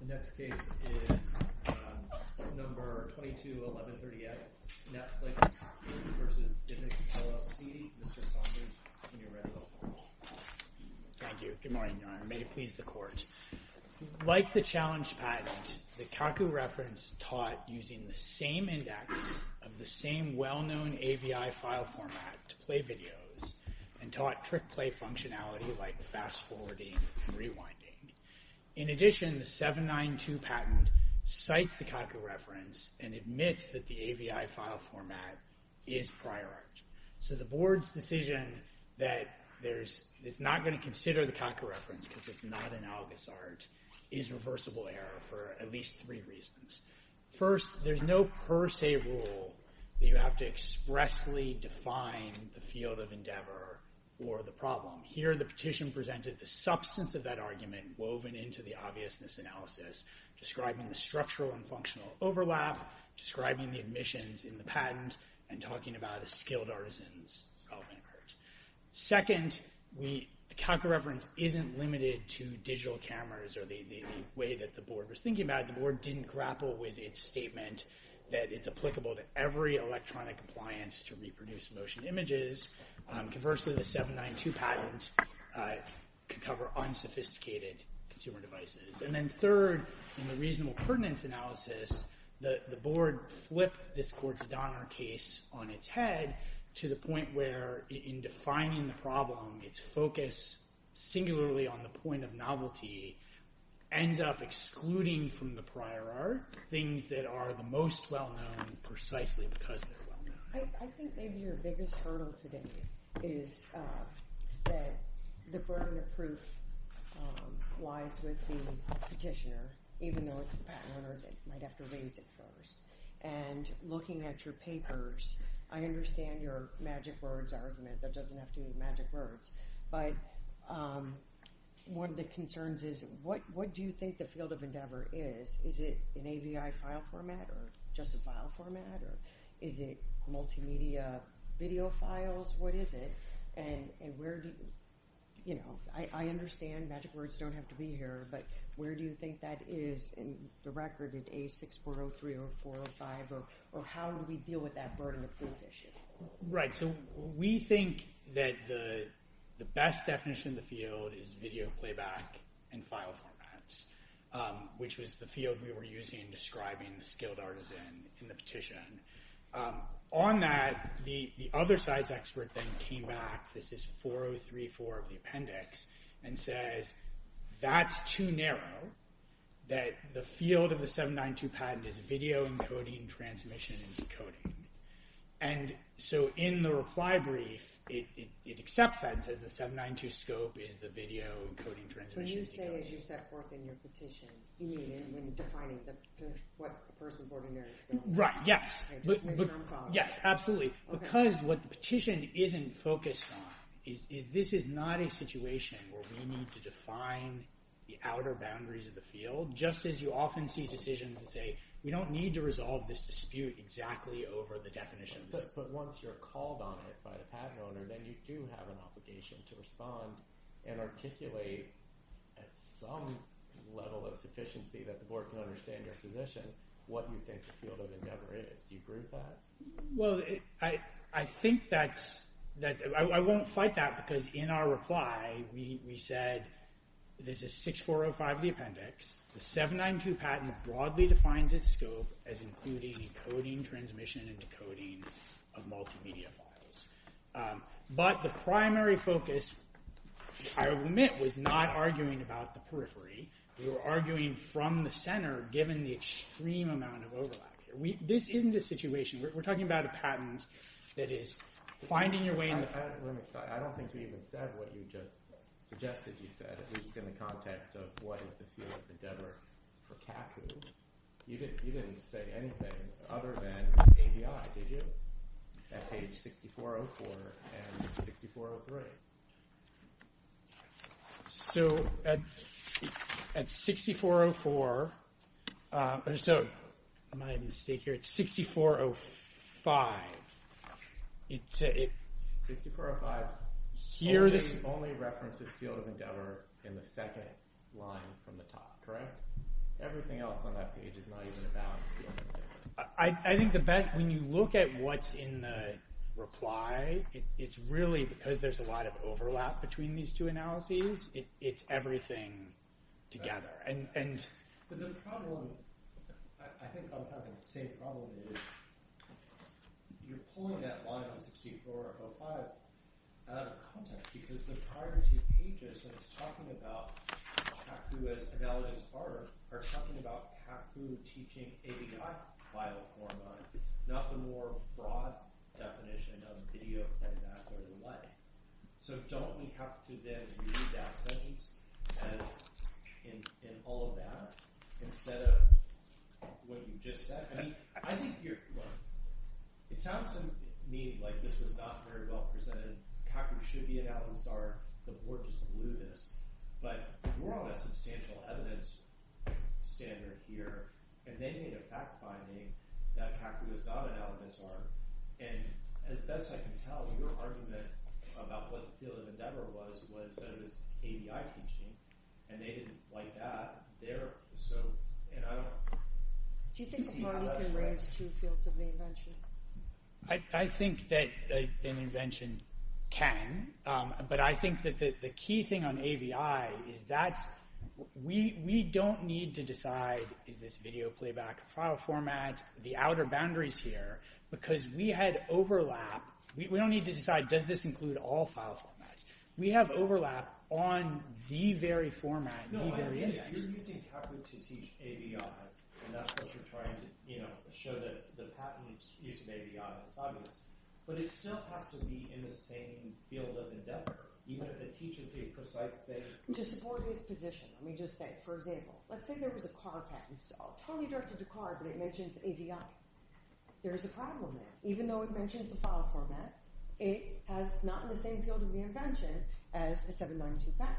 The next case is number 221138, Netflix v. DivX, LLC. Mr. Saunders, can you read the report? Thank you. Good morning, Your Honor. May it please the Court. Like the challenge patent, the CACU reference taught using the same index of the same well-known AVI file format to play videos and taught trick-play functionality like fast-forwarding and rewinding. In addition, the 792 patent cites the CACU reference and admits that the AVI file format is prior art. So the Board's decision that it's not going to consider the CACU reference because it's not analogous art is reversible error for at least three reasons. First, there's no per se rule that you have to expressly define the field of endeavor or the problem. Here, the petition presented the substance of that argument woven into the obviousness analysis, describing the structural and functional overlap, describing the admissions in the patent, and talking about a skilled artisan's involvement. Second, the CACU reference isn't limited to digital cameras or the way that the Board was thinking about it. The Board didn't grapple with its statement that it's applicable to every electronic appliance to reproduce motion images. Conversely, the 792 patent could cover unsophisticated consumer devices. And then third, in the reasonable pertinence analysis, the Board flipped this Gortz-Donner case on its head to the point where in defining the problem, its focus singularly on the point of novelty ends up excluding from the prior art things that are the most well-known precisely because they're well-known. I think maybe your biggest hurdle today is that the burden of proof lies with the petitioner, even though it's the patent owner that might have to raise it first. And looking at your papers, I understand your magic words argument. That doesn't have to be magic words. But one of the concerns is what do you think the field of endeavor is? Is it an AVI file format or just a file format? Or is it multimedia video files? What is it? And I understand magic words don't have to be here. But where do you think that is in the record in A6403 or 405? Or how do we deal with that burden of proof issue? Right, so we think that the best definition in the field is video playback and file formats, which was the field we were using in describing the skilled artisan in the petition. On that, the other side's expert then came back, this is 4034 of the appendix, and says that's too narrow, that the field of the 792 patent is video encoding, transmission, and decoding. And so in the reply brief, it accepts that and says the 792 scope is the video encoding, transmission, and decoding. What do you say as you set forth in your petition when defining what a person's ordinary skill is? Right, yes, absolutely. Because what the petition isn't focused on is this is not a situation where we need to define the outer boundaries of the field, just as you often see decisions that say we don't need to resolve this dispute exactly over the definitions. But once you're called on it by the patent owner, then you do have an obligation to respond and articulate at some level of sufficiency that the board can understand your position, what you think the field of endeavor is. Do you agree with that? Well, I think that's – I won't fight that because in our reply, we said this is 6405 of the appendix, the 792 patent broadly defines its scope as including encoding, transmission, and decoding of multimedia files. But the primary focus, I will admit, was not arguing about the periphery. We were arguing from the center given the extreme amount of overlap here. This isn't a situation – we're talking about a patent that is finding your way in the – I don't think you even said what you just suggested you said, at least in the context of what is the field of endeavor for CACU. You didn't say anything other than ABI, did you, at page 6404 and 6403? So at 6404 – am I at a mistake here? It's 6405. 6405 only references field of endeavor in the second line from the top, correct? Everything else on that page is not even about field of endeavor. I think the – when you look at what's in the reply, it's really because there's a lot of overlap between these two analyses. It's everything together. But the problem – I think I'm having the same problem here. You're pulling that line on 6405 out of context because the prior two pages, when it's talking about CACU as analogous art, are talking about CACU teaching ABI file format, not the more broad definition of video playback or the like. So don't we have to then read that sentence as – in all of that instead of what you just said? I think you're – look, it sounds to me like this was not very well presented. CACU should be analogous art. The board just blew this. But we're on a substantial evidence standard here, and they made a fact-finding that CACU is not analogous art. And as best I can tell, your argument about what the field of endeavor was was that it was ABI teaching, and they didn't like that. They're so – and I don't – Do you think a party can raise two fields of the invention? I think that an invention can, but I think that the key thing on ABI is that we don't need to decide, is this video playback file format, the outer boundaries here, because we had overlap. We don't need to decide, does this include all file formats? We have overlap on the very format, the very index. No, I mean if you're using CACU to teach ABI, and that's what you're trying to show that the patent is ABI, that's obvious. But it still has to be in the same field of endeavor, even if it teaches the precise thing. To support its position, let me just say, for example, let's say there was a car patent. It's totally directed to car, but it mentions ABI. There is a problem there. Even though it mentions the file format, it is not in the same field of reinvention as a 792 patent.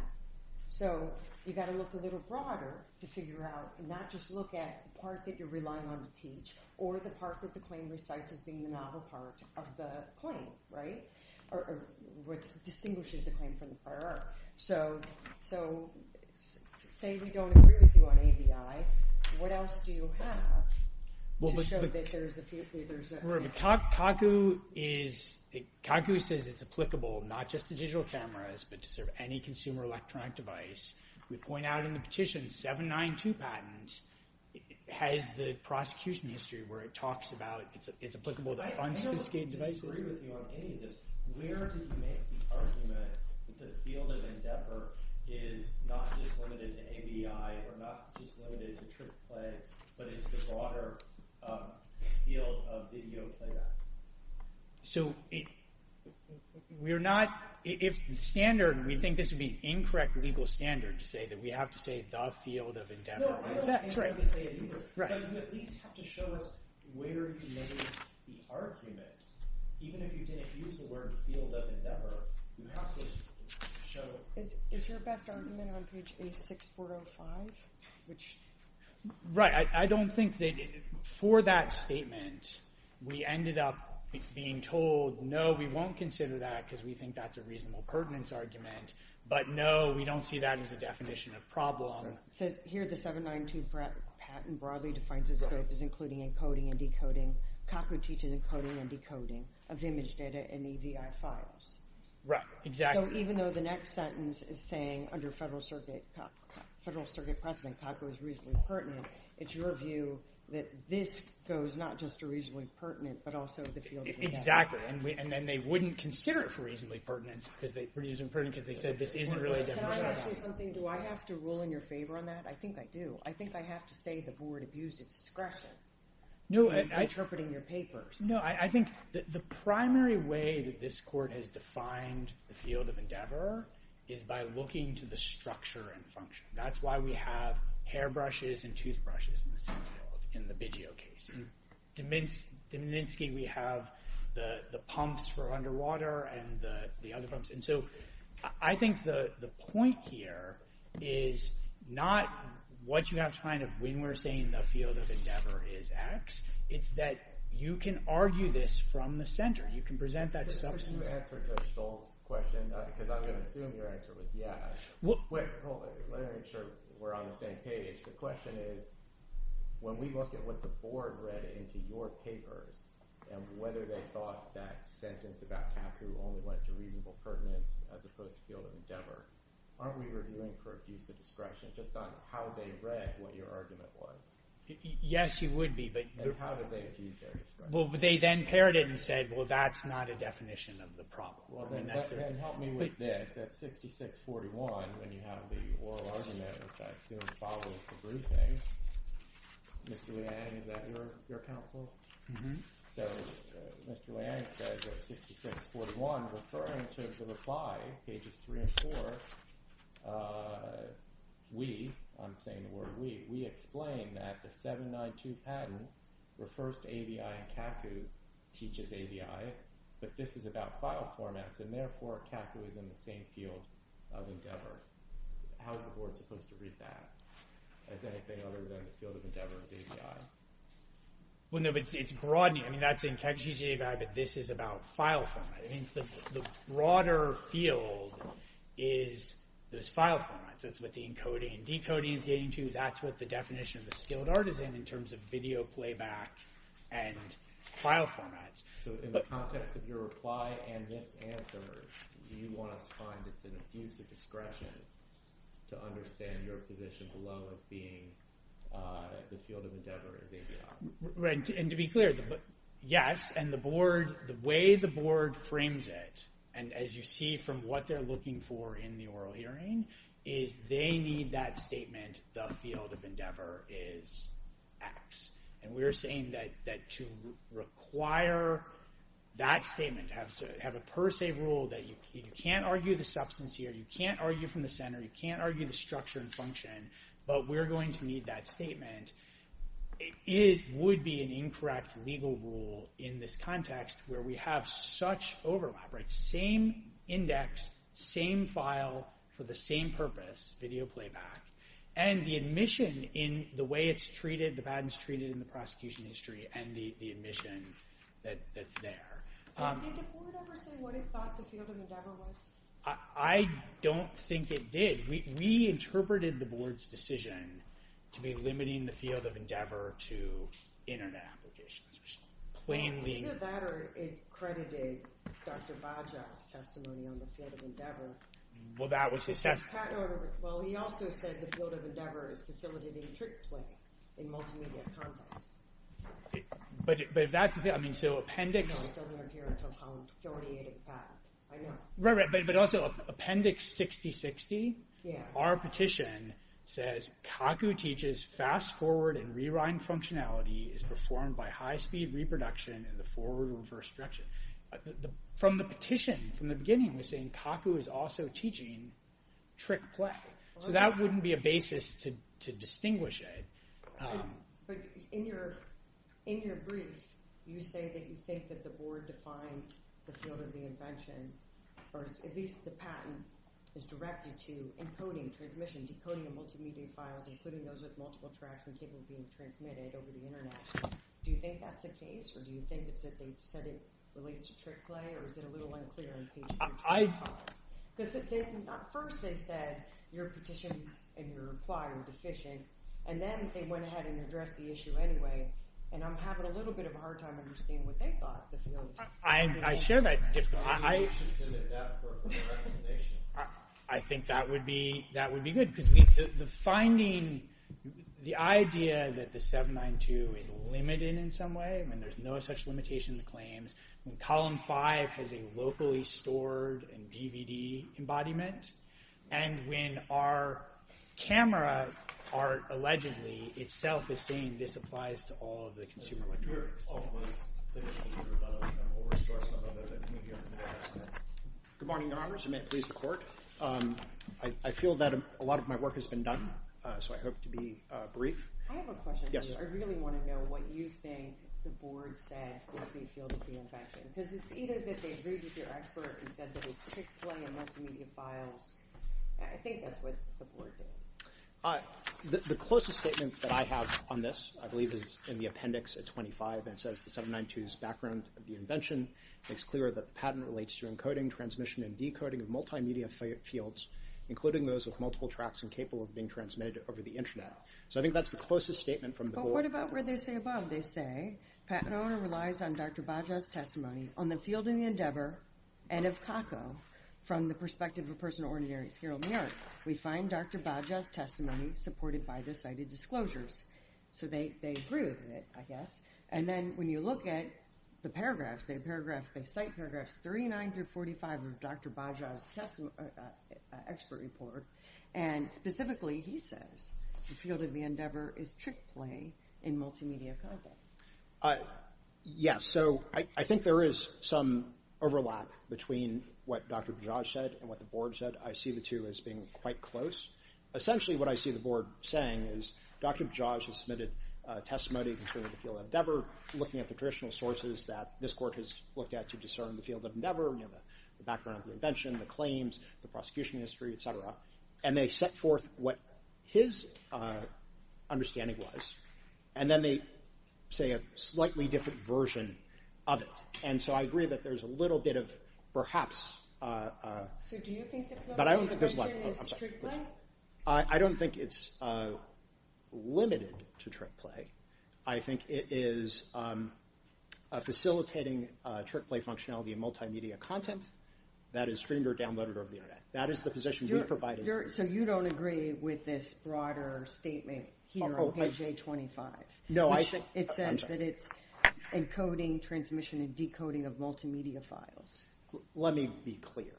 So you've got to look a little broader to figure out and not just look at the part that you're relying on to teach or the part that the claim recites as being the novel part of the claim, right, or what distinguishes the claim from the prior art. So say we don't agree with you on ABI. What else do you have to show that there's a – CACU is – CACU says it's applicable not just to digital cameras but to sort of any consumer electronic device. We point out in the petition 792 patent has the prosecution history where it talks about it's applicable to unsophisticated devices. Where did you make the argument that the field of endeavor is not just limited to ABI or not just limited to trick play, but it's the broader field of video playback? So we're not – if the standard – we think this would be an incorrect legal standard to say that we have to say the field of endeavor. But you at least have to show us where you made the argument. Even if you didn't use the word field of endeavor, you have to show – Is your best argument on page 6405, which – Right. I don't think that for that statement we ended up being told no, we won't consider that because we think that's a reasonable pertinence argument. But no, we don't see that as a definition of problem. It says here the 792 patent broadly defines its scope as including encoding and decoding. COCO teaches encoding and decoding of image data and EVI files. Right. Exactly. So even though the next sentence is saying under Federal Circuit precedent COCO is reasonably pertinent, it's your view that this goes not just to reasonably pertinent but also the field of endeavor. Exactly. And then they wouldn't consider it for reasonably pertinent because they said this isn't really a definition of problem. Can I ask you something? Do I have to rule in your favor on that? I think I do. I think I have to say the board abused its discretion in interpreting your papers. No. I think the primary way that this court has defined the field of endeavor is by looking to the structure and function. That's why we have hairbrushes and toothbrushes in the same field in the Biggio case. In Dmanisky we have the pumps for underwater and the other pumps. And so I think the point here is not what you have to find when we're saying the field of endeavor is X. It's that you can argue this from the center. You can present that substance. Can you answer Judge Stoll's question because I'm going to assume your answer was yes. Let me make sure we're on the same page. The question is when we look at what the board read into your papers and whether they thought that sentence about taproot only went to reasonable pertinence as opposed to the field of endeavor, aren't we reviewing for abuse of discretion just on how they read what your argument was? Yes, you would be. And how did they abuse their discretion? They then paired it and said, well, that's not a definition of the problem. Then help me with this. At 66-41 when you have the oral argument, which I assume follows the briefing. Mr. Leanne, is that your counsel? So Mr. Leanne says at 66-41 referring to the reply, pages three and four, we, I'm saying the word we, we explain that the 792 patent refers to ABI and CACU teaches ABI, but this is about file formats and therefore CACU is in the same field of endeavor. How is the board supposed to read that as anything other than the field of endeavor is ABI? Well, no, but it's broadening. I mean that's in CACU teaches ABI, but this is about file format. I mean the broader field is those file formats. That's what the encoding and decoding is getting to. That's what the definition of the skilled artisan in terms of video playback and file formats. So in the context of your reply and this answer, do you want us to find it's an abuse of discretion to understand your position below as being the field of endeavor is ABI? Right, and to be clear, yes, and the board, the way the board frames it, and as you see from what they're looking for in the oral hearing, is they need that statement, the field of endeavor is X. And we're saying that to require that statement, have a per se rule that you can't argue the substance here, you can't argue from the center, you can't argue the structure and function, but we're going to need that statement. It would be an incorrect legal rule in this context where we have such overlap, right? Same index, same file for the same purpose, video playback. And the admission in the way it's treated, the way it's treated in the prosecution history, and the admission that's there. Did the board ever say what it thought the field of endeavor was? I don't think it did. We interpreted the board's decision to be limiting the field of endeavor to Internet applications. Either that or it credited Dr. Baja's testimony on the field of endeavor. Well, that was his testimony. Well, he also said the field of endeavor is facilitating trick play in multimedia content. But if that's the thing, I mean, so appendix... No, it doesn't appear until column 48 of the patent, I know. Right, right, but also appendix 6060, our petition says, Kaku teaches fast forward and rewind functionality is performed by high speed reproduction in the forward and reverse direction. From the petition, from the beginning, we're saying Kaku is also teaching trick play. So that wouldn't be a basis to distinguish it. But in your brief, you say that you think that the board defined the field of the invention, or at least the patent is directed to encoding, transmission, decoding of multimedia files, including those with multiple tracks and cable being transmitted over the Internet. Do you think that's the case? Or do you think it's that they've said it relates to trick play? Or is it a little unclear in page 325? Because at first they said, your petition and your reply are deficient. And then they went ahead and addressed the issue anyway. And I'm having a little bit of a hard time understanding what they thought the field of... I share that difficulty. I think that would be good. Because the finding, the idea that the 792 is limited in some way, when there's no such limitation in the claims, when column 5 has a locally stored and DVD embodiment, and when our camera art, allegedly, itself is saying this applies to all of the consumer electronics. Good morning, Your Honors. And may it please the Court. I feel that a lot of my work has been done. So I hope to be brief. I have a question. Yes. I really want to know what you think the Board said was the field of the invention. Because it's either that they agreed with your expert and said that it's trick play and multimedia files. I think that's what the Board did. The closest statement that I have on this, I believe, is in the appendix at 25. And it says the 792's background of the invention makes clear that the patent relates to encoding, transmission, and decoding of multimedia fields, including those with multiple tracks and capable of being transmitted over the Internet. So I think that's the closest statement from the Board. But what about where they say above? They say, patent owner relies on Dr. Baja's testimony on the field in the endeavor and of COCO from the perspective of a person of ordinary skill in the art. We find Dr. Baja's testimony supported by the cited disclosures. So they agree with it, I guess. And then when you look at the paragraphs, they cite paragraphs 39 through 45 of Dr. Baja's expert report, and specifically he says the field of the endeavor is trick play in multimedia content. Yes. So I think there is some overlap between what Dr. Baja said and what the Board said. I see the two as being quite close. Essentially what I see the Board saying is Dr. Baja has submitted testimony concerning the field of endeavor, looking at the traditional sources that this Court has looked at to discern the field of endeavor, the background of the invention, the claims, the prosecution history, et cetera. And they set forth what his understanding was. And then they say a slightly different version of it. And so I agree that there's a little bit of perhaps... So do you think the question is trick play? I don't think it's limited to trick play. I think it is facilitating trick play functionality in multimedia content that is streamed or downloaded over the Internet. That is the position we provide. So you don't agree with this broader statement here on page A25? No. It says that it's encoding, transmission, and decoding of multimedia files. Let me be clear.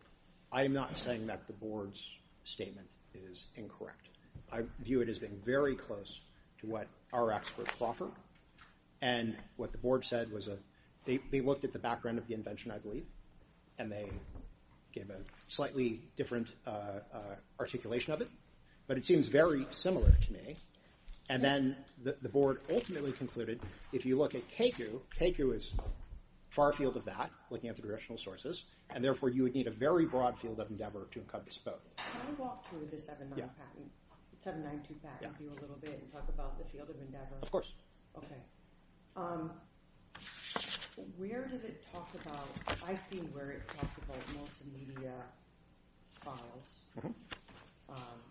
I am not saying that the Board's statement is incorrect. I view it as being very close to what our experts offer. And what the Board said was they looked at the background of the invention, I believe, and they gave a slightly different articulation of it. But it seems very similar to me. And then the Board ultimately concluded, if you look at Keikyu, Keikyu is far afield of that, looking at the directional sources, and therefore you would need a very broad field of endeavor to encode this code. Can I walk through the 792 patent with you a little bit and talk about the field of endeavor? Of course. Okay. Where does it talk about... I see where it talks about multimedia files.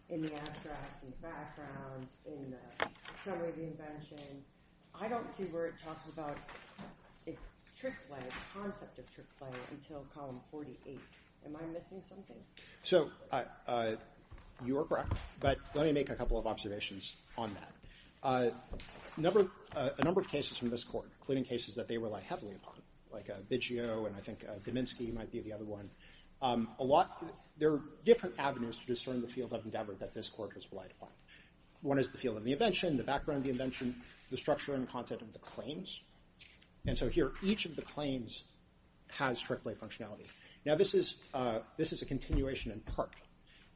In the abstracts, in the background, in the summary of the invention. And I don't see where it talks about trick play, the concept of trick play, until Column 48. Am I missing something? So you are correct. But let me make a couple of observations on that. A number of cases from this Court, including cases that they rely heavily upon, like Biggio and I think Dominsky might be the other one, there are different avenues to discern the field of endeavor that this Court has relied upon. One is the field of the invention, the background of the invention, the structure and content of the claims. And so here, each of the claims has trick play functionality. Now this is a continuation in part.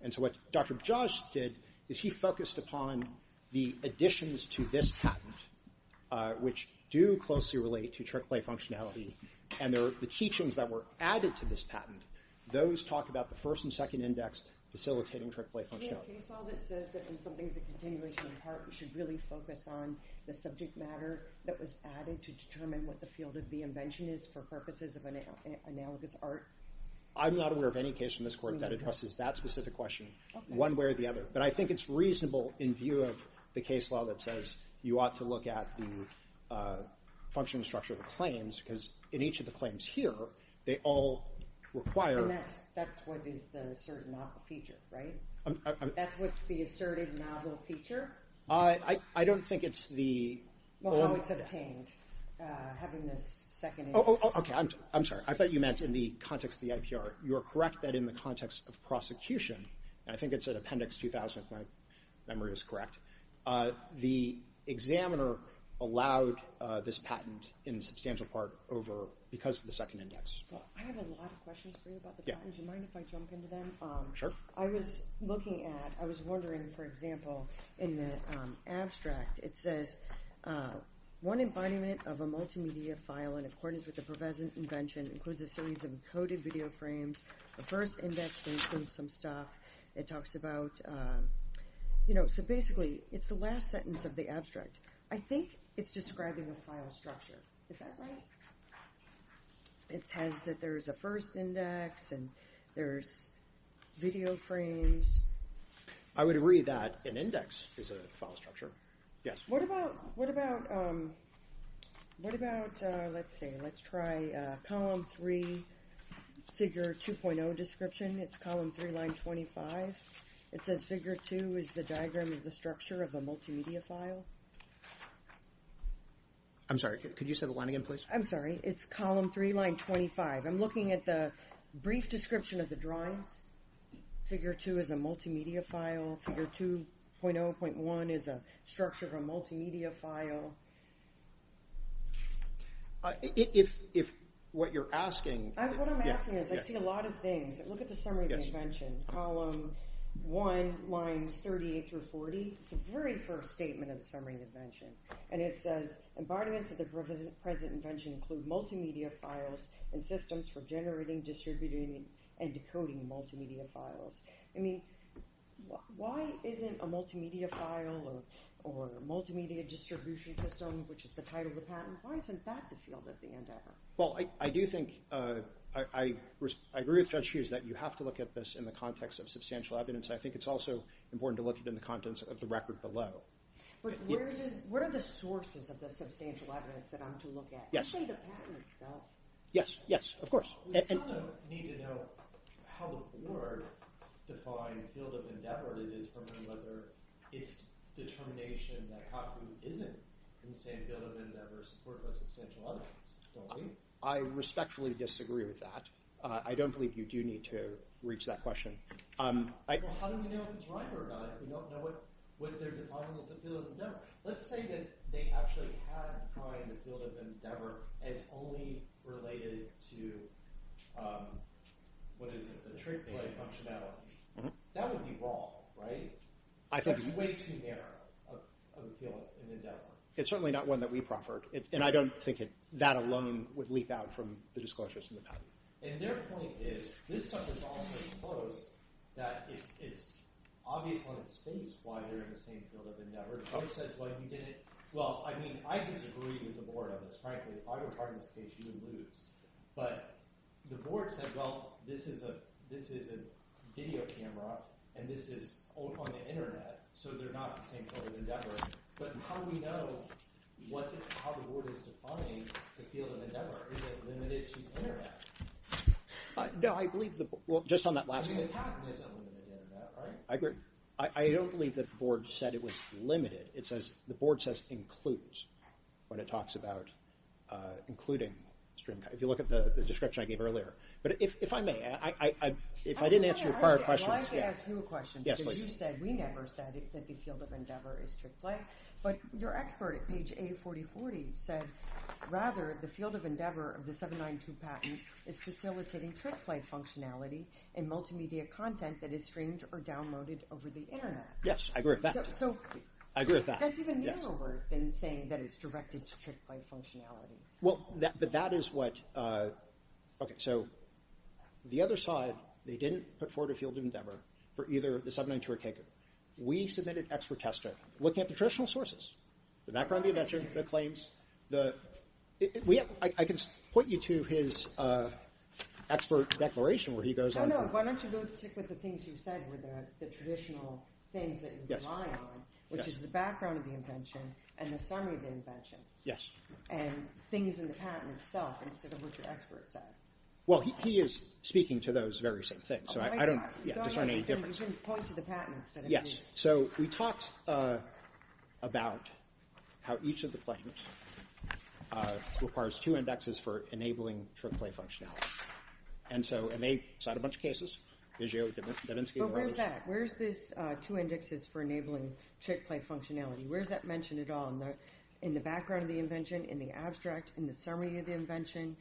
And so what Dr. Bajaj did is he focused upon the additions to this patent, which do closely relate to trick play functionality, and the teachings that were added to this patent, those talk about the first and second index facilitating trick play functionality. Is there any case law that says that when something is a continuation in part, we should really focus on the subject matter that was added to determine what the field of the invention is for purposes of an analogous art? I'm not aware of any case from this Court that addresses that specific question, one way or the other. But I think it's reasonable in view of the case law that says you ought to look at the functioning structure of the claims, because in each of the claims here, they all require— And that's what is the certain feature, right? That's what's the asserted novel feature? I don't think it's the— Well, how it's obtained, having this second index. Oh, okay. I'm sorry. I thought you meant in the context of the IPR. You are correct that in the context of prosecution, and I think it's at Appendix 2000 if my memory is correct, the examiner allowed this patent in substantial part because of the second index. I have a lot of questions for you about the patents. Do you mind if I jump into them? Sure. I was looking at—I was wondering, for example, in the abstract, it says one embodiment of a multimedia file, in accordance with the pervasive invention, includes a series of encoded video frames. The first index includes some stuff. It talks about—so basically, it's the last sentence of the abstract. I think it's describing the file structure. Is that right? It says that there's a first index and there's video frames. I would agree that an index is a file structure. Yes. What about—let's see. Let's try Column 3, Figure 2.0 Description. It's Column 3, Line 25. It says Figure 2 is the diagram of the structure of a multimedia file. I'm sorry. Could you say the line again, please? I'm sorry. It's Column 3, Line 25. I'm looking at the brief description of the drawings. Figure 2 is a multimedia file. Figure 2.0.1 is a structure of a multimedia file. If what you're asking— What I'm asking is I see a lot of things. Look at the summary of the invention, Column 1, Lines 38 through 40. It's the very first statement of the summary of the invention. And it says, Embodiments of the present invention include multimedia files and systems for generating, distributing, and decoding multimedia files. I mean, why isn't a multimedia file or multimedia distribution system, which is the title of the patent, why isn't that the field at the end of it? Well, I do think—I agree with Judge Hughes that you have to look at this in the context of substantial evidence. I think it's also important to look at it in the context of the record below. But what are the sources of the substantial evidence that I'm to look at, especially the patent itself? Yes, yes, of course. We kind of need to know how the board defined field of endeavor to determine whether it's determination that Khakou isn't in the same field of endeavor as the Court of Substantial Evidence, don't we? I respectfully disagree with that. I don't believe you do need to reach that question. Well, how do we know if it's right or not? You don't know what they're defining as a field of endeavor. Let's say that they actually had defined the field of endeavor as only related to, what is it, the trickling functionality. That would be wrong, right? That's way too narrow of a field of endeavor. It's certainly not one that we proffered, and I don't think that alone would leap out from the disclosures in the patent. And their point is, this stuff is all so close that it's obvious on its face why they're in the same field of endeavor. Khakou says, well, you didn't – well, I mean, I disagree with the board on this, frankly. If I were part of this case, you would lose. But the board said, well, this is a video camera, and this is on the Internet, so they're not in the same field of endeavor. But how do we know how the board is defining the field of endeavor? Is it limited to Internet? No, I believe the – well, just on that last point. I mean, the patent is unlimited Internet, right? I agree. I don't believe that the board said it was limited. It says – the board says includes when it talks about including stream – if you look at the description I gave earlier. But if I may, if I didn't answer your prior questions – I'd like to ask you a question. Yes, please. Because you said, we never said that the field of endeavor is trick play. But your expert at page A4040 said, rather, the field of endeavor of the 792 patent is facilitating trick play functionality in multimedia content that is streamed or downloaded over the Internet. Yes, I agree with that. So – I agree with that. That's even newer than saying that it's directed to trick play functionality. Well, but that is what – okay, so the other side, they didn't put forward a field of endeavor for either the 792 or KU. We submitted expert testing. We're looking at the traditional sources, the background of the invention, the claims, the – I can point you to his expert declaration where he goes on to – No, no. Why don't you go with the things you said were the traditional things that you rely on, which is the background of the invention and the summary of the invention. Yes. And things in the patent itself instead of what the expert said. Well, he is speaking to those very same things. So I don't – Oh, my God. You can point to the patent instead of me. Yes. So we talked about how each of the claims requires two indexes for enabling trick play functionality. And so – and they cite a bunch of cases. But where is that? Where is this two indexes for enabling trick play functionality? Where is that mentioned at all in the background of the invention, in the abstract, in the summary of the invention?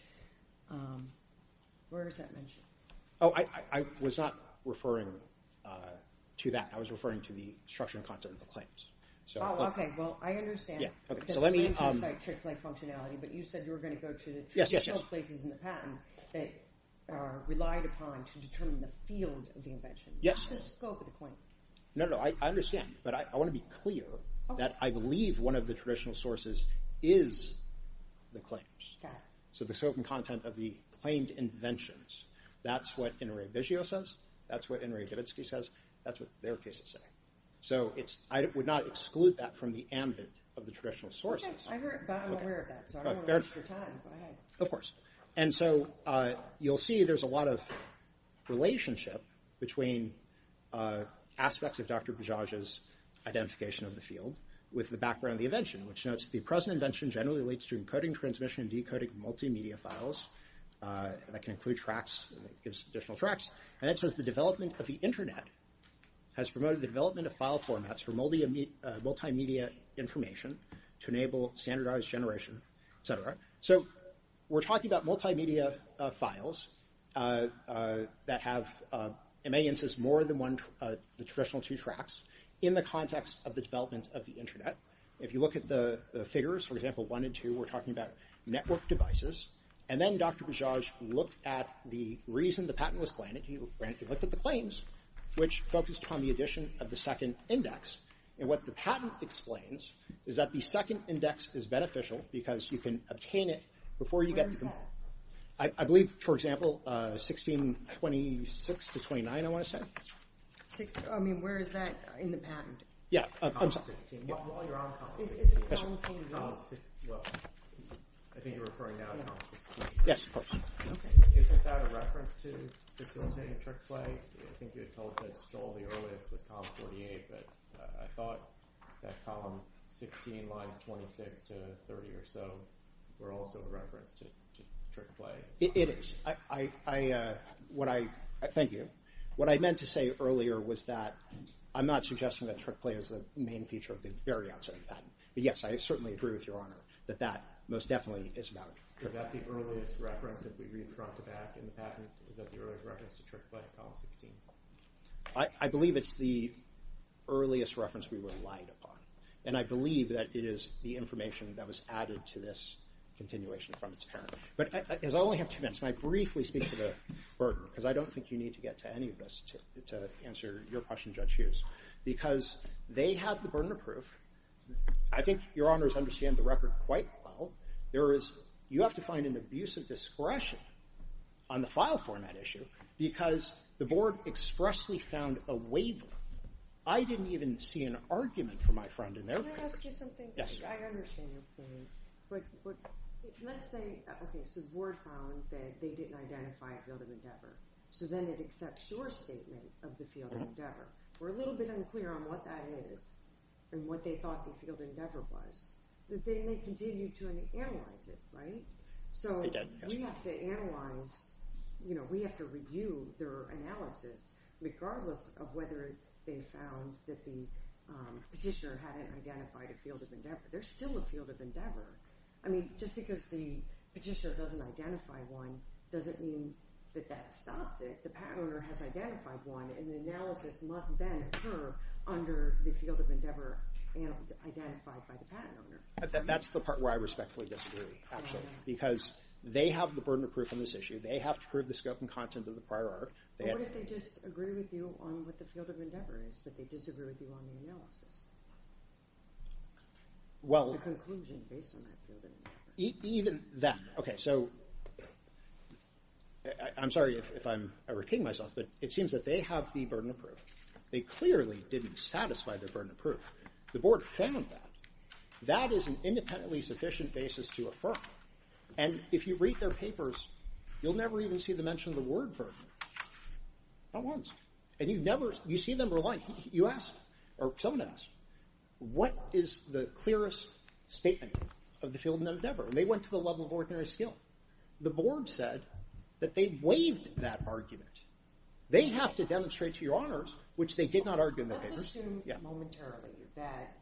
Where is that mentioned? Oh, I was not referring to that. I was referring to the structure and content of the claims. Oh, okay. Well, I understand. Yeah. Okay. So let me – Because claims don't cite trick play functionality, but you said you were going to go to the traditional places in the patent that are relied upon to determine the field of the invention. Yes. Not the scope of the claim. No, no. I understand. But I want to be clear that I believe one of the traditional sources is the claims. Okay. So the scope and content of the claimed inventions, that's what Inrei Vizio says. That's what Inrei Gavitsky says. That's what their cases say. So I would not exclude that from the ambit of the traditional sources. Okay. I'm aware of that. So I don't want to waste your time. Go ahead. Of course. And so you'll see there's a lot of relationship between aspects of Dr. Bajaj's identification of the field with the background of the invention, which notes the present invention generally relates to encoding, transmission, and decoding multimedia files. And that can include tracks. It gives additional tracks. And it says the development of the Internet has promoted the development of file formats for multimedia information to enable standardized generation, et cetera. So we're talking about multimedia files that have, in many instances, more than the traditional two tracks in the context of the development of the Internet. If you look at the figures, for example, one and two, we're talking about network devices. And then Dr. Bajaj looked at the reason the patent was granted. He looked at the claims, which focused upon the addition of the second index. And what the patent explains is that the second index is beneficial because you can obtain it before you get to the... Where is that? I believe, for example, 1626 to 1629, I want to say. I mean, where is that in the patent? Yeah. I'm sorry. While you're on column 16... Well, I think you're referring now to column 16. Yes, of course. Okay. Isn't that a reference to facilitating trick play? I think you had told Ted Stoll the earliest was column 48, but I thought that column 16 lines 26 to 30 or so were also a reference to trick play. It is. I... Thank you. What I meant to say earlier was that I'm not suggesting that trick play is the main feature of the very outset of the patent. But, yes, I certainly agree with Your Honor that that most definitely is about trick play. Is that the earliest reference that we read front to back in the patent? Is that the earliest reference to trick play in column 16? I believe it's the earliest reference we relied upon. And I believe that it is the information that was added to this continuation from its parent. But I only have two minutes, and I briefly speak to the burden because I don't think you need to get to any of this to answer your question, Judge Hughes, because they have the burden of proof. I think Your Honors understand the record quite well. There is... You have to find an abuse of discretion on the file format issue because the board expressly found a waiver. I didn't even see an argument from my friend in their favor. Can I ask you something? Yes, Your Honor. I understand your point. But let's say... Okay, so the board found that they didn't identify a field of endeavor. So then it accepts your statement of the field of endeavor. We're a little bit unclear on what that is and what they thought the field of endeavor was. But they may continue to analyze it, right? So we have to analyze... You know, we have to review their analysis, regardless of whether they found that the petitioner hadn't identified a field of endeavor. There's still a field of endeavor. I mean, just because the petitioner doesn't identify one doesn't mean that that stops it. The patent owner has identified one, and the analysis must then occur under the field of endeavor identified by the patent owner. That's the part where I respectfully disagree, actually, because they have the burden of proof on this issue. They have to prove the scope and content of the prior art. What if they just agree with you on what the field of endeavor is, but they disagree with you on the analysis? Well... The conclusion based on that field of endeavor. Even that. Okay, so... I'm sorry if I'm over-kidding myself, but it seems that they have the burden of proof. They clearly didn't satisfy their burden of proof. The board found that. That is an independently sufficient basis to affirm. And if you read their papers, you'll never even see them mention the word burden. Not once. And you see them relying. You ask, or someone asks, what is the clearest statement of the field of endeavor? And they went to the level of ordinary skill. The board said that they waived that argument. They have to demonstrate to your honors, which they did not argue in their papers... Let's assume momentarily that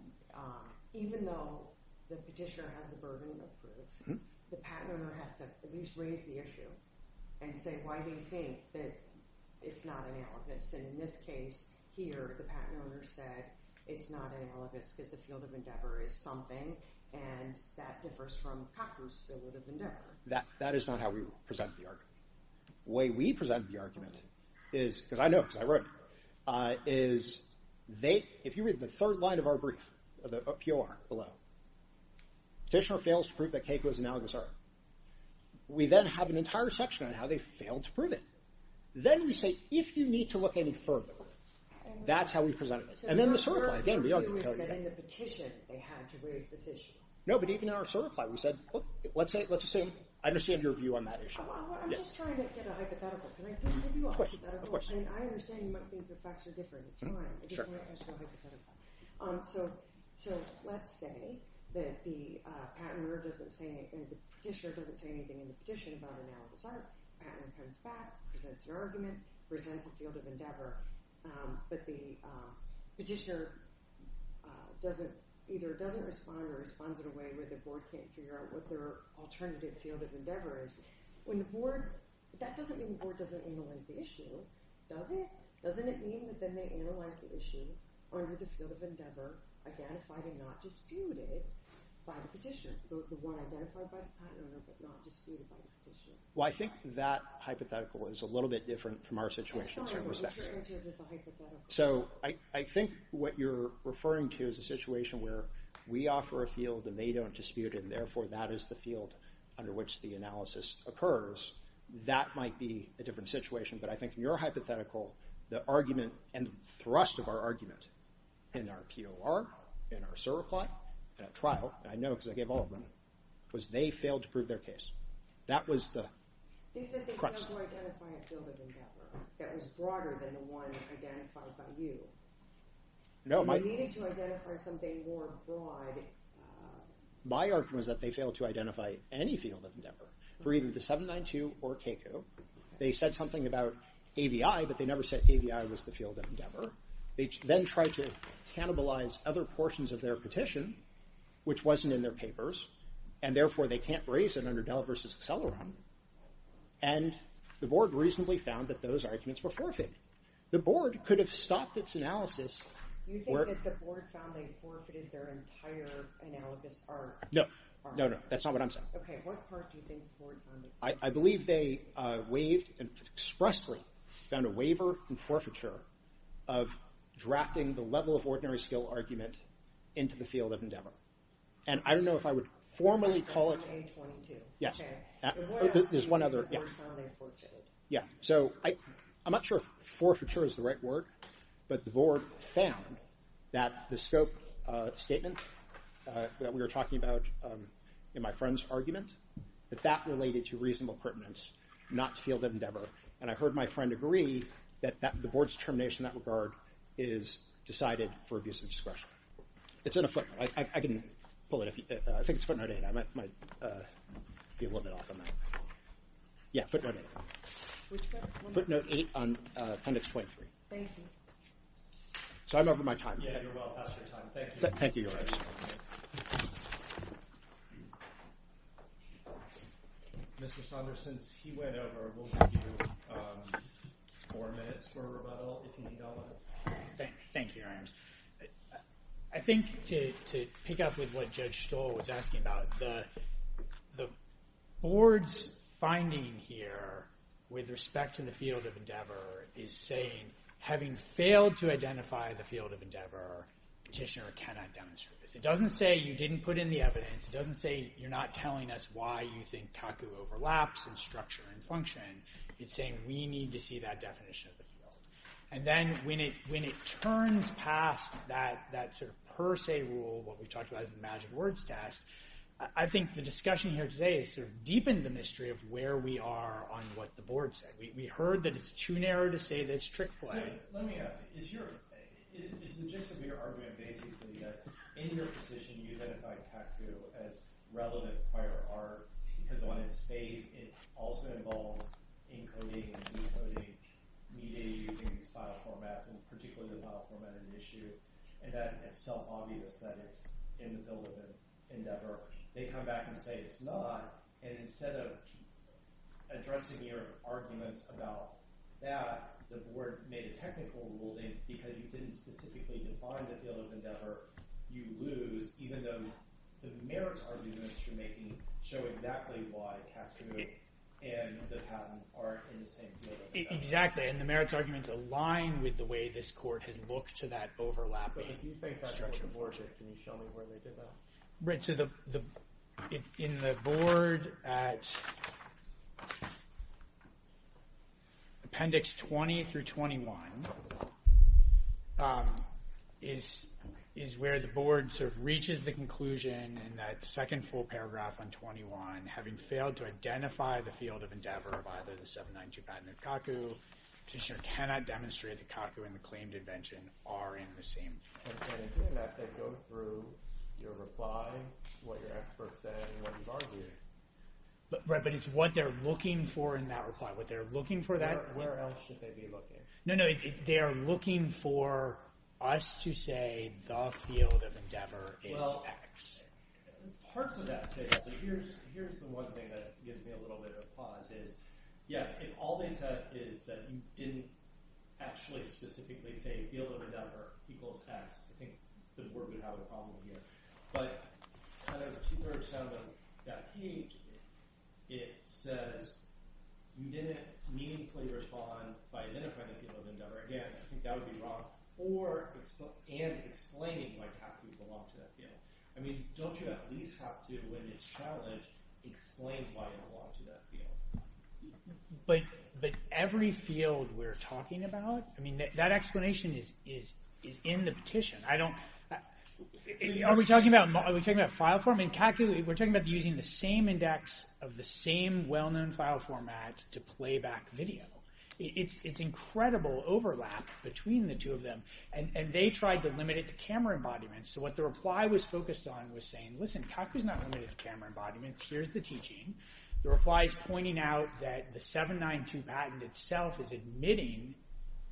even though the petitioner has the burden of proof, the patent owner has to at least raise the issue and say why they think that it's not analogous. And in this case, here, the patent owner said it's not analogous because the field of endeavor is something that differs from the practice of the field of endeavor. That is not how we presented the argument. The way we presented the argument is, because I know because I wrote it, is they, if you read the third line of our brief, the POR below, petitioner fails to prove that Keiko is analogous, we then have an entire section on how they failed to prove it. Then we say, if you need to look any further, that's how we presented it. And then the third line, again, the argument... In the petition, they had to raise this issue. No, but even in our certify, we said, let's assume I understand your view on that issue. I'm just trying to get a hypothetical. Can I give you a hypothetical? I understand you might think the facts are different. It's fine. So let's say that the petitioner doesn't say anything in the petition about analogous art. The patent owner comes back, presents an argument, presents a field of endeavor, but the petitioner either doesn't respond or responds in a way where the board can't figure out what their alternative field of endeavor is. When the board... That doesn't mean the board doesn't analyze the issue, does it? Doesn't it mean that then they analyze the issue under the field of endeavor, identified and not disputed by the petitioner? The one identified by the patent owner but not disputed by the petitioner. Well, I think that hypothetical is a little bit different from our situation in certain respects. So I think what you're referring to is a situation where we offer a field and they don't dispute it, and therefore that is the field under which the analysis occurs. That might be a different situation, but I think in your hypothetical, the argument and thrust of our argument in our POR, in our server plot, and at trial, and I know because I gave all of them, was they failed to prove their case. That was the crux. They said they failed to identify a field of endeavor that was broader than the one identified by you. No, my... They needed to identify something more broad. My argument is that they failed to identify any field of endeavor for either the 792 or CACU. They said something about AVI, but they never said AVI was the field of endeavor. They then tried to cannibalize other portions of their petition, which wasn't in their papers, and therefore they can't raise it under Dell v. Acceleron, and the board reasonably found that those arguments were forfeited. The board could have stopped its analysis... You think that the board found they forfeited their entire analogous arc? No, no, no, that's not what I'm saying. Okay, what part do you think the board found... I believe they waived and expressly found a waiver and forfeiture of drafting the level of ordinary skill argument into the field of endeavor, and I don't know if I would formally call it... There's one other... Yeah, so I'm not sure if forfeiture is the right word, but the board found that the scope statement that we were talking about in my friend's argument, that that related to reasonable pertinence, not field of endeavor, and I heard my friend agree that the board's determination in that regard is decided for abuse of discretion. It's in a footnote. I can pull it if you... I think it's footnote 8. I might be a little bit off on that. Yeah, footnote 8. Footnote 8 on appendix 23. Thank you. So I'm over my time. Thank you. Mr. Saunders, since he went over, we'll give you four minutes for rebuttal. Thank you, Your Honor. I think to pick up with what Judge Stoll was asking about, the board's finding here with respect to the field of endeavor is saying having failed to identify the field of endeavor, petitioner cannot demonstrate this. It doesn't say you didn't put in the evidence. It doesn't say you're not telling us why you think CACU overlaps in structure and function. It's saying we need to see that definition of the field. And then when it turns past that per se rule, what we talked about as the magic words test, I think the discussion here today has deepened the mystery of where we are on what the board said. We heard that it's too narrow to say that it's trick play. Let me ask. Is the gist of your argument basically that in your position you identified CACU as relative prior art because on its face it also involves encoding and decoding media using these file formats and particularly the file format in issue and that it's self obvious that it's in the field of endeavor. They come back and say it's not and instead of addressing your arguments about that, the board made a technical ruling because you didn't specifically define the field of endeavor you lose even though the merits arguments you're making show exactly why CACU and the patent are in the same field of endeavor. Exactly and the merits arguments align with the way this court has looked to that overlapping. Can you show me where they did that? In the board at appendix 20 through 21 is where the board reaches the conclusion in that second full paragraph on 21 having failed to identify the field of endeavor, CACU cannot demonstrate that CACU and the claimed invention are in the same field. And in doing that they go through your reply, what your experts say and what you've argued. Right, but it's what they're looking for in that reply. Where else should they be looking? They're looking for us to say the field of endeavor is X. Parts of that say that. Here's the one thing that gives me a little bit of pause is, yes, if all they said is that you didn't actually specifically say field of endeavor equals X, I think the board would have a problem here. But kind of two-thirds out of that page it says you didn't meaningfully respond by identifying the field of endeavor. Again, I think that would be wrong. And explaining why CACU belonged to that field. Don't you at least have to, when it's challenged, explain why it belonged to that field. But every field we're talking about, that explanation is in the petition. Are we talking about file form? In CACU, we're talking about using the same index of the same well-known file format to play back video. It's incredible overlap between the two of them. And they tried to limit it to camera embodiments. So what the reply was focused on was saying, listen, CACU's not limited to camera embodiments. Here's the teaching. The reply is pointing out that the 792 patent itself is admitting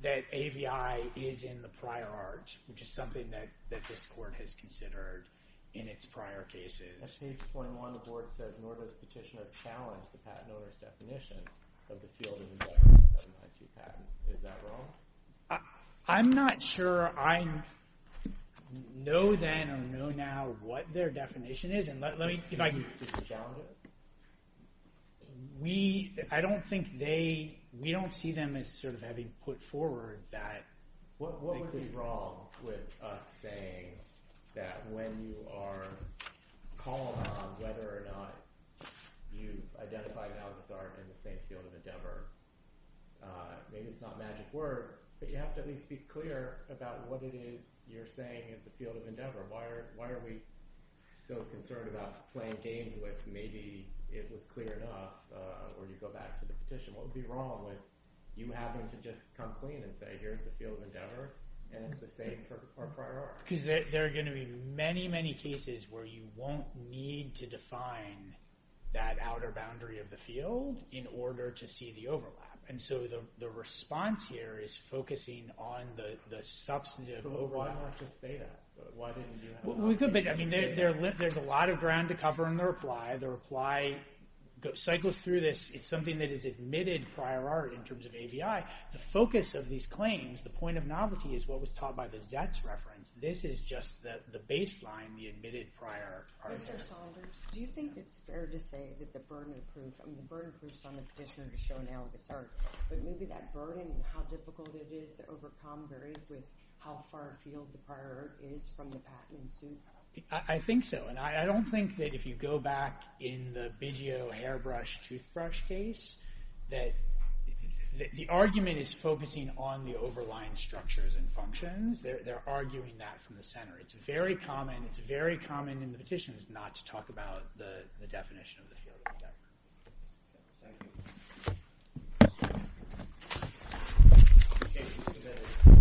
that AVI is in the prior art, which is something that this court has considered in its prior cases. In page 21, the board says, nor does petitioner challenge the patent owner's definition of the field of endeavor in the 792 patent. Is that wrong? I'm not sure I know then or know now what their definition is. I don't think they we don't see them as sort of having put forward that. What would be wrong with us saying that when you are calling on whether or not you identify now this art in the same field of endeavor, maybe it's not magic words, but you have to at least be clear about what it is you're saying is the field of endeavor. Why are we so concerned about playing games with maybe it was clear enough? Or you go back to the petition. What would be wrong with you having to just come clean and say here's the field of endeavor and it's the same for prior art? There are going to be many, many cases where you won't need to define that outer boundary of the field in order to see the overlap. And so the response here is focusing on the substantive overlap. But why not just say that? There's a lot of ground to cover in the reply. The reply cycles through this. It's something that is admitted prior art in terms of AVI. The focus of these claims, the point of novelty, is what was taught by the Zets reference. This is just the baseline, the admitted prior art. Do you think it's fair to say that the burden of proof, I mean the burden of proof is on the petitioner to show now this art, but maybe that burden and how difficult it is to overcome varies with how far a field the prior art is from the patent. I think so. And I don't think that if you go back in the Biggio hairbrush toothbrush case that the argument is focusing on the overlying structures and functions. They're arguing that from the center. It's very common, it's very common in the petitions not to talk about the definition of the field of endeavor. Thank you.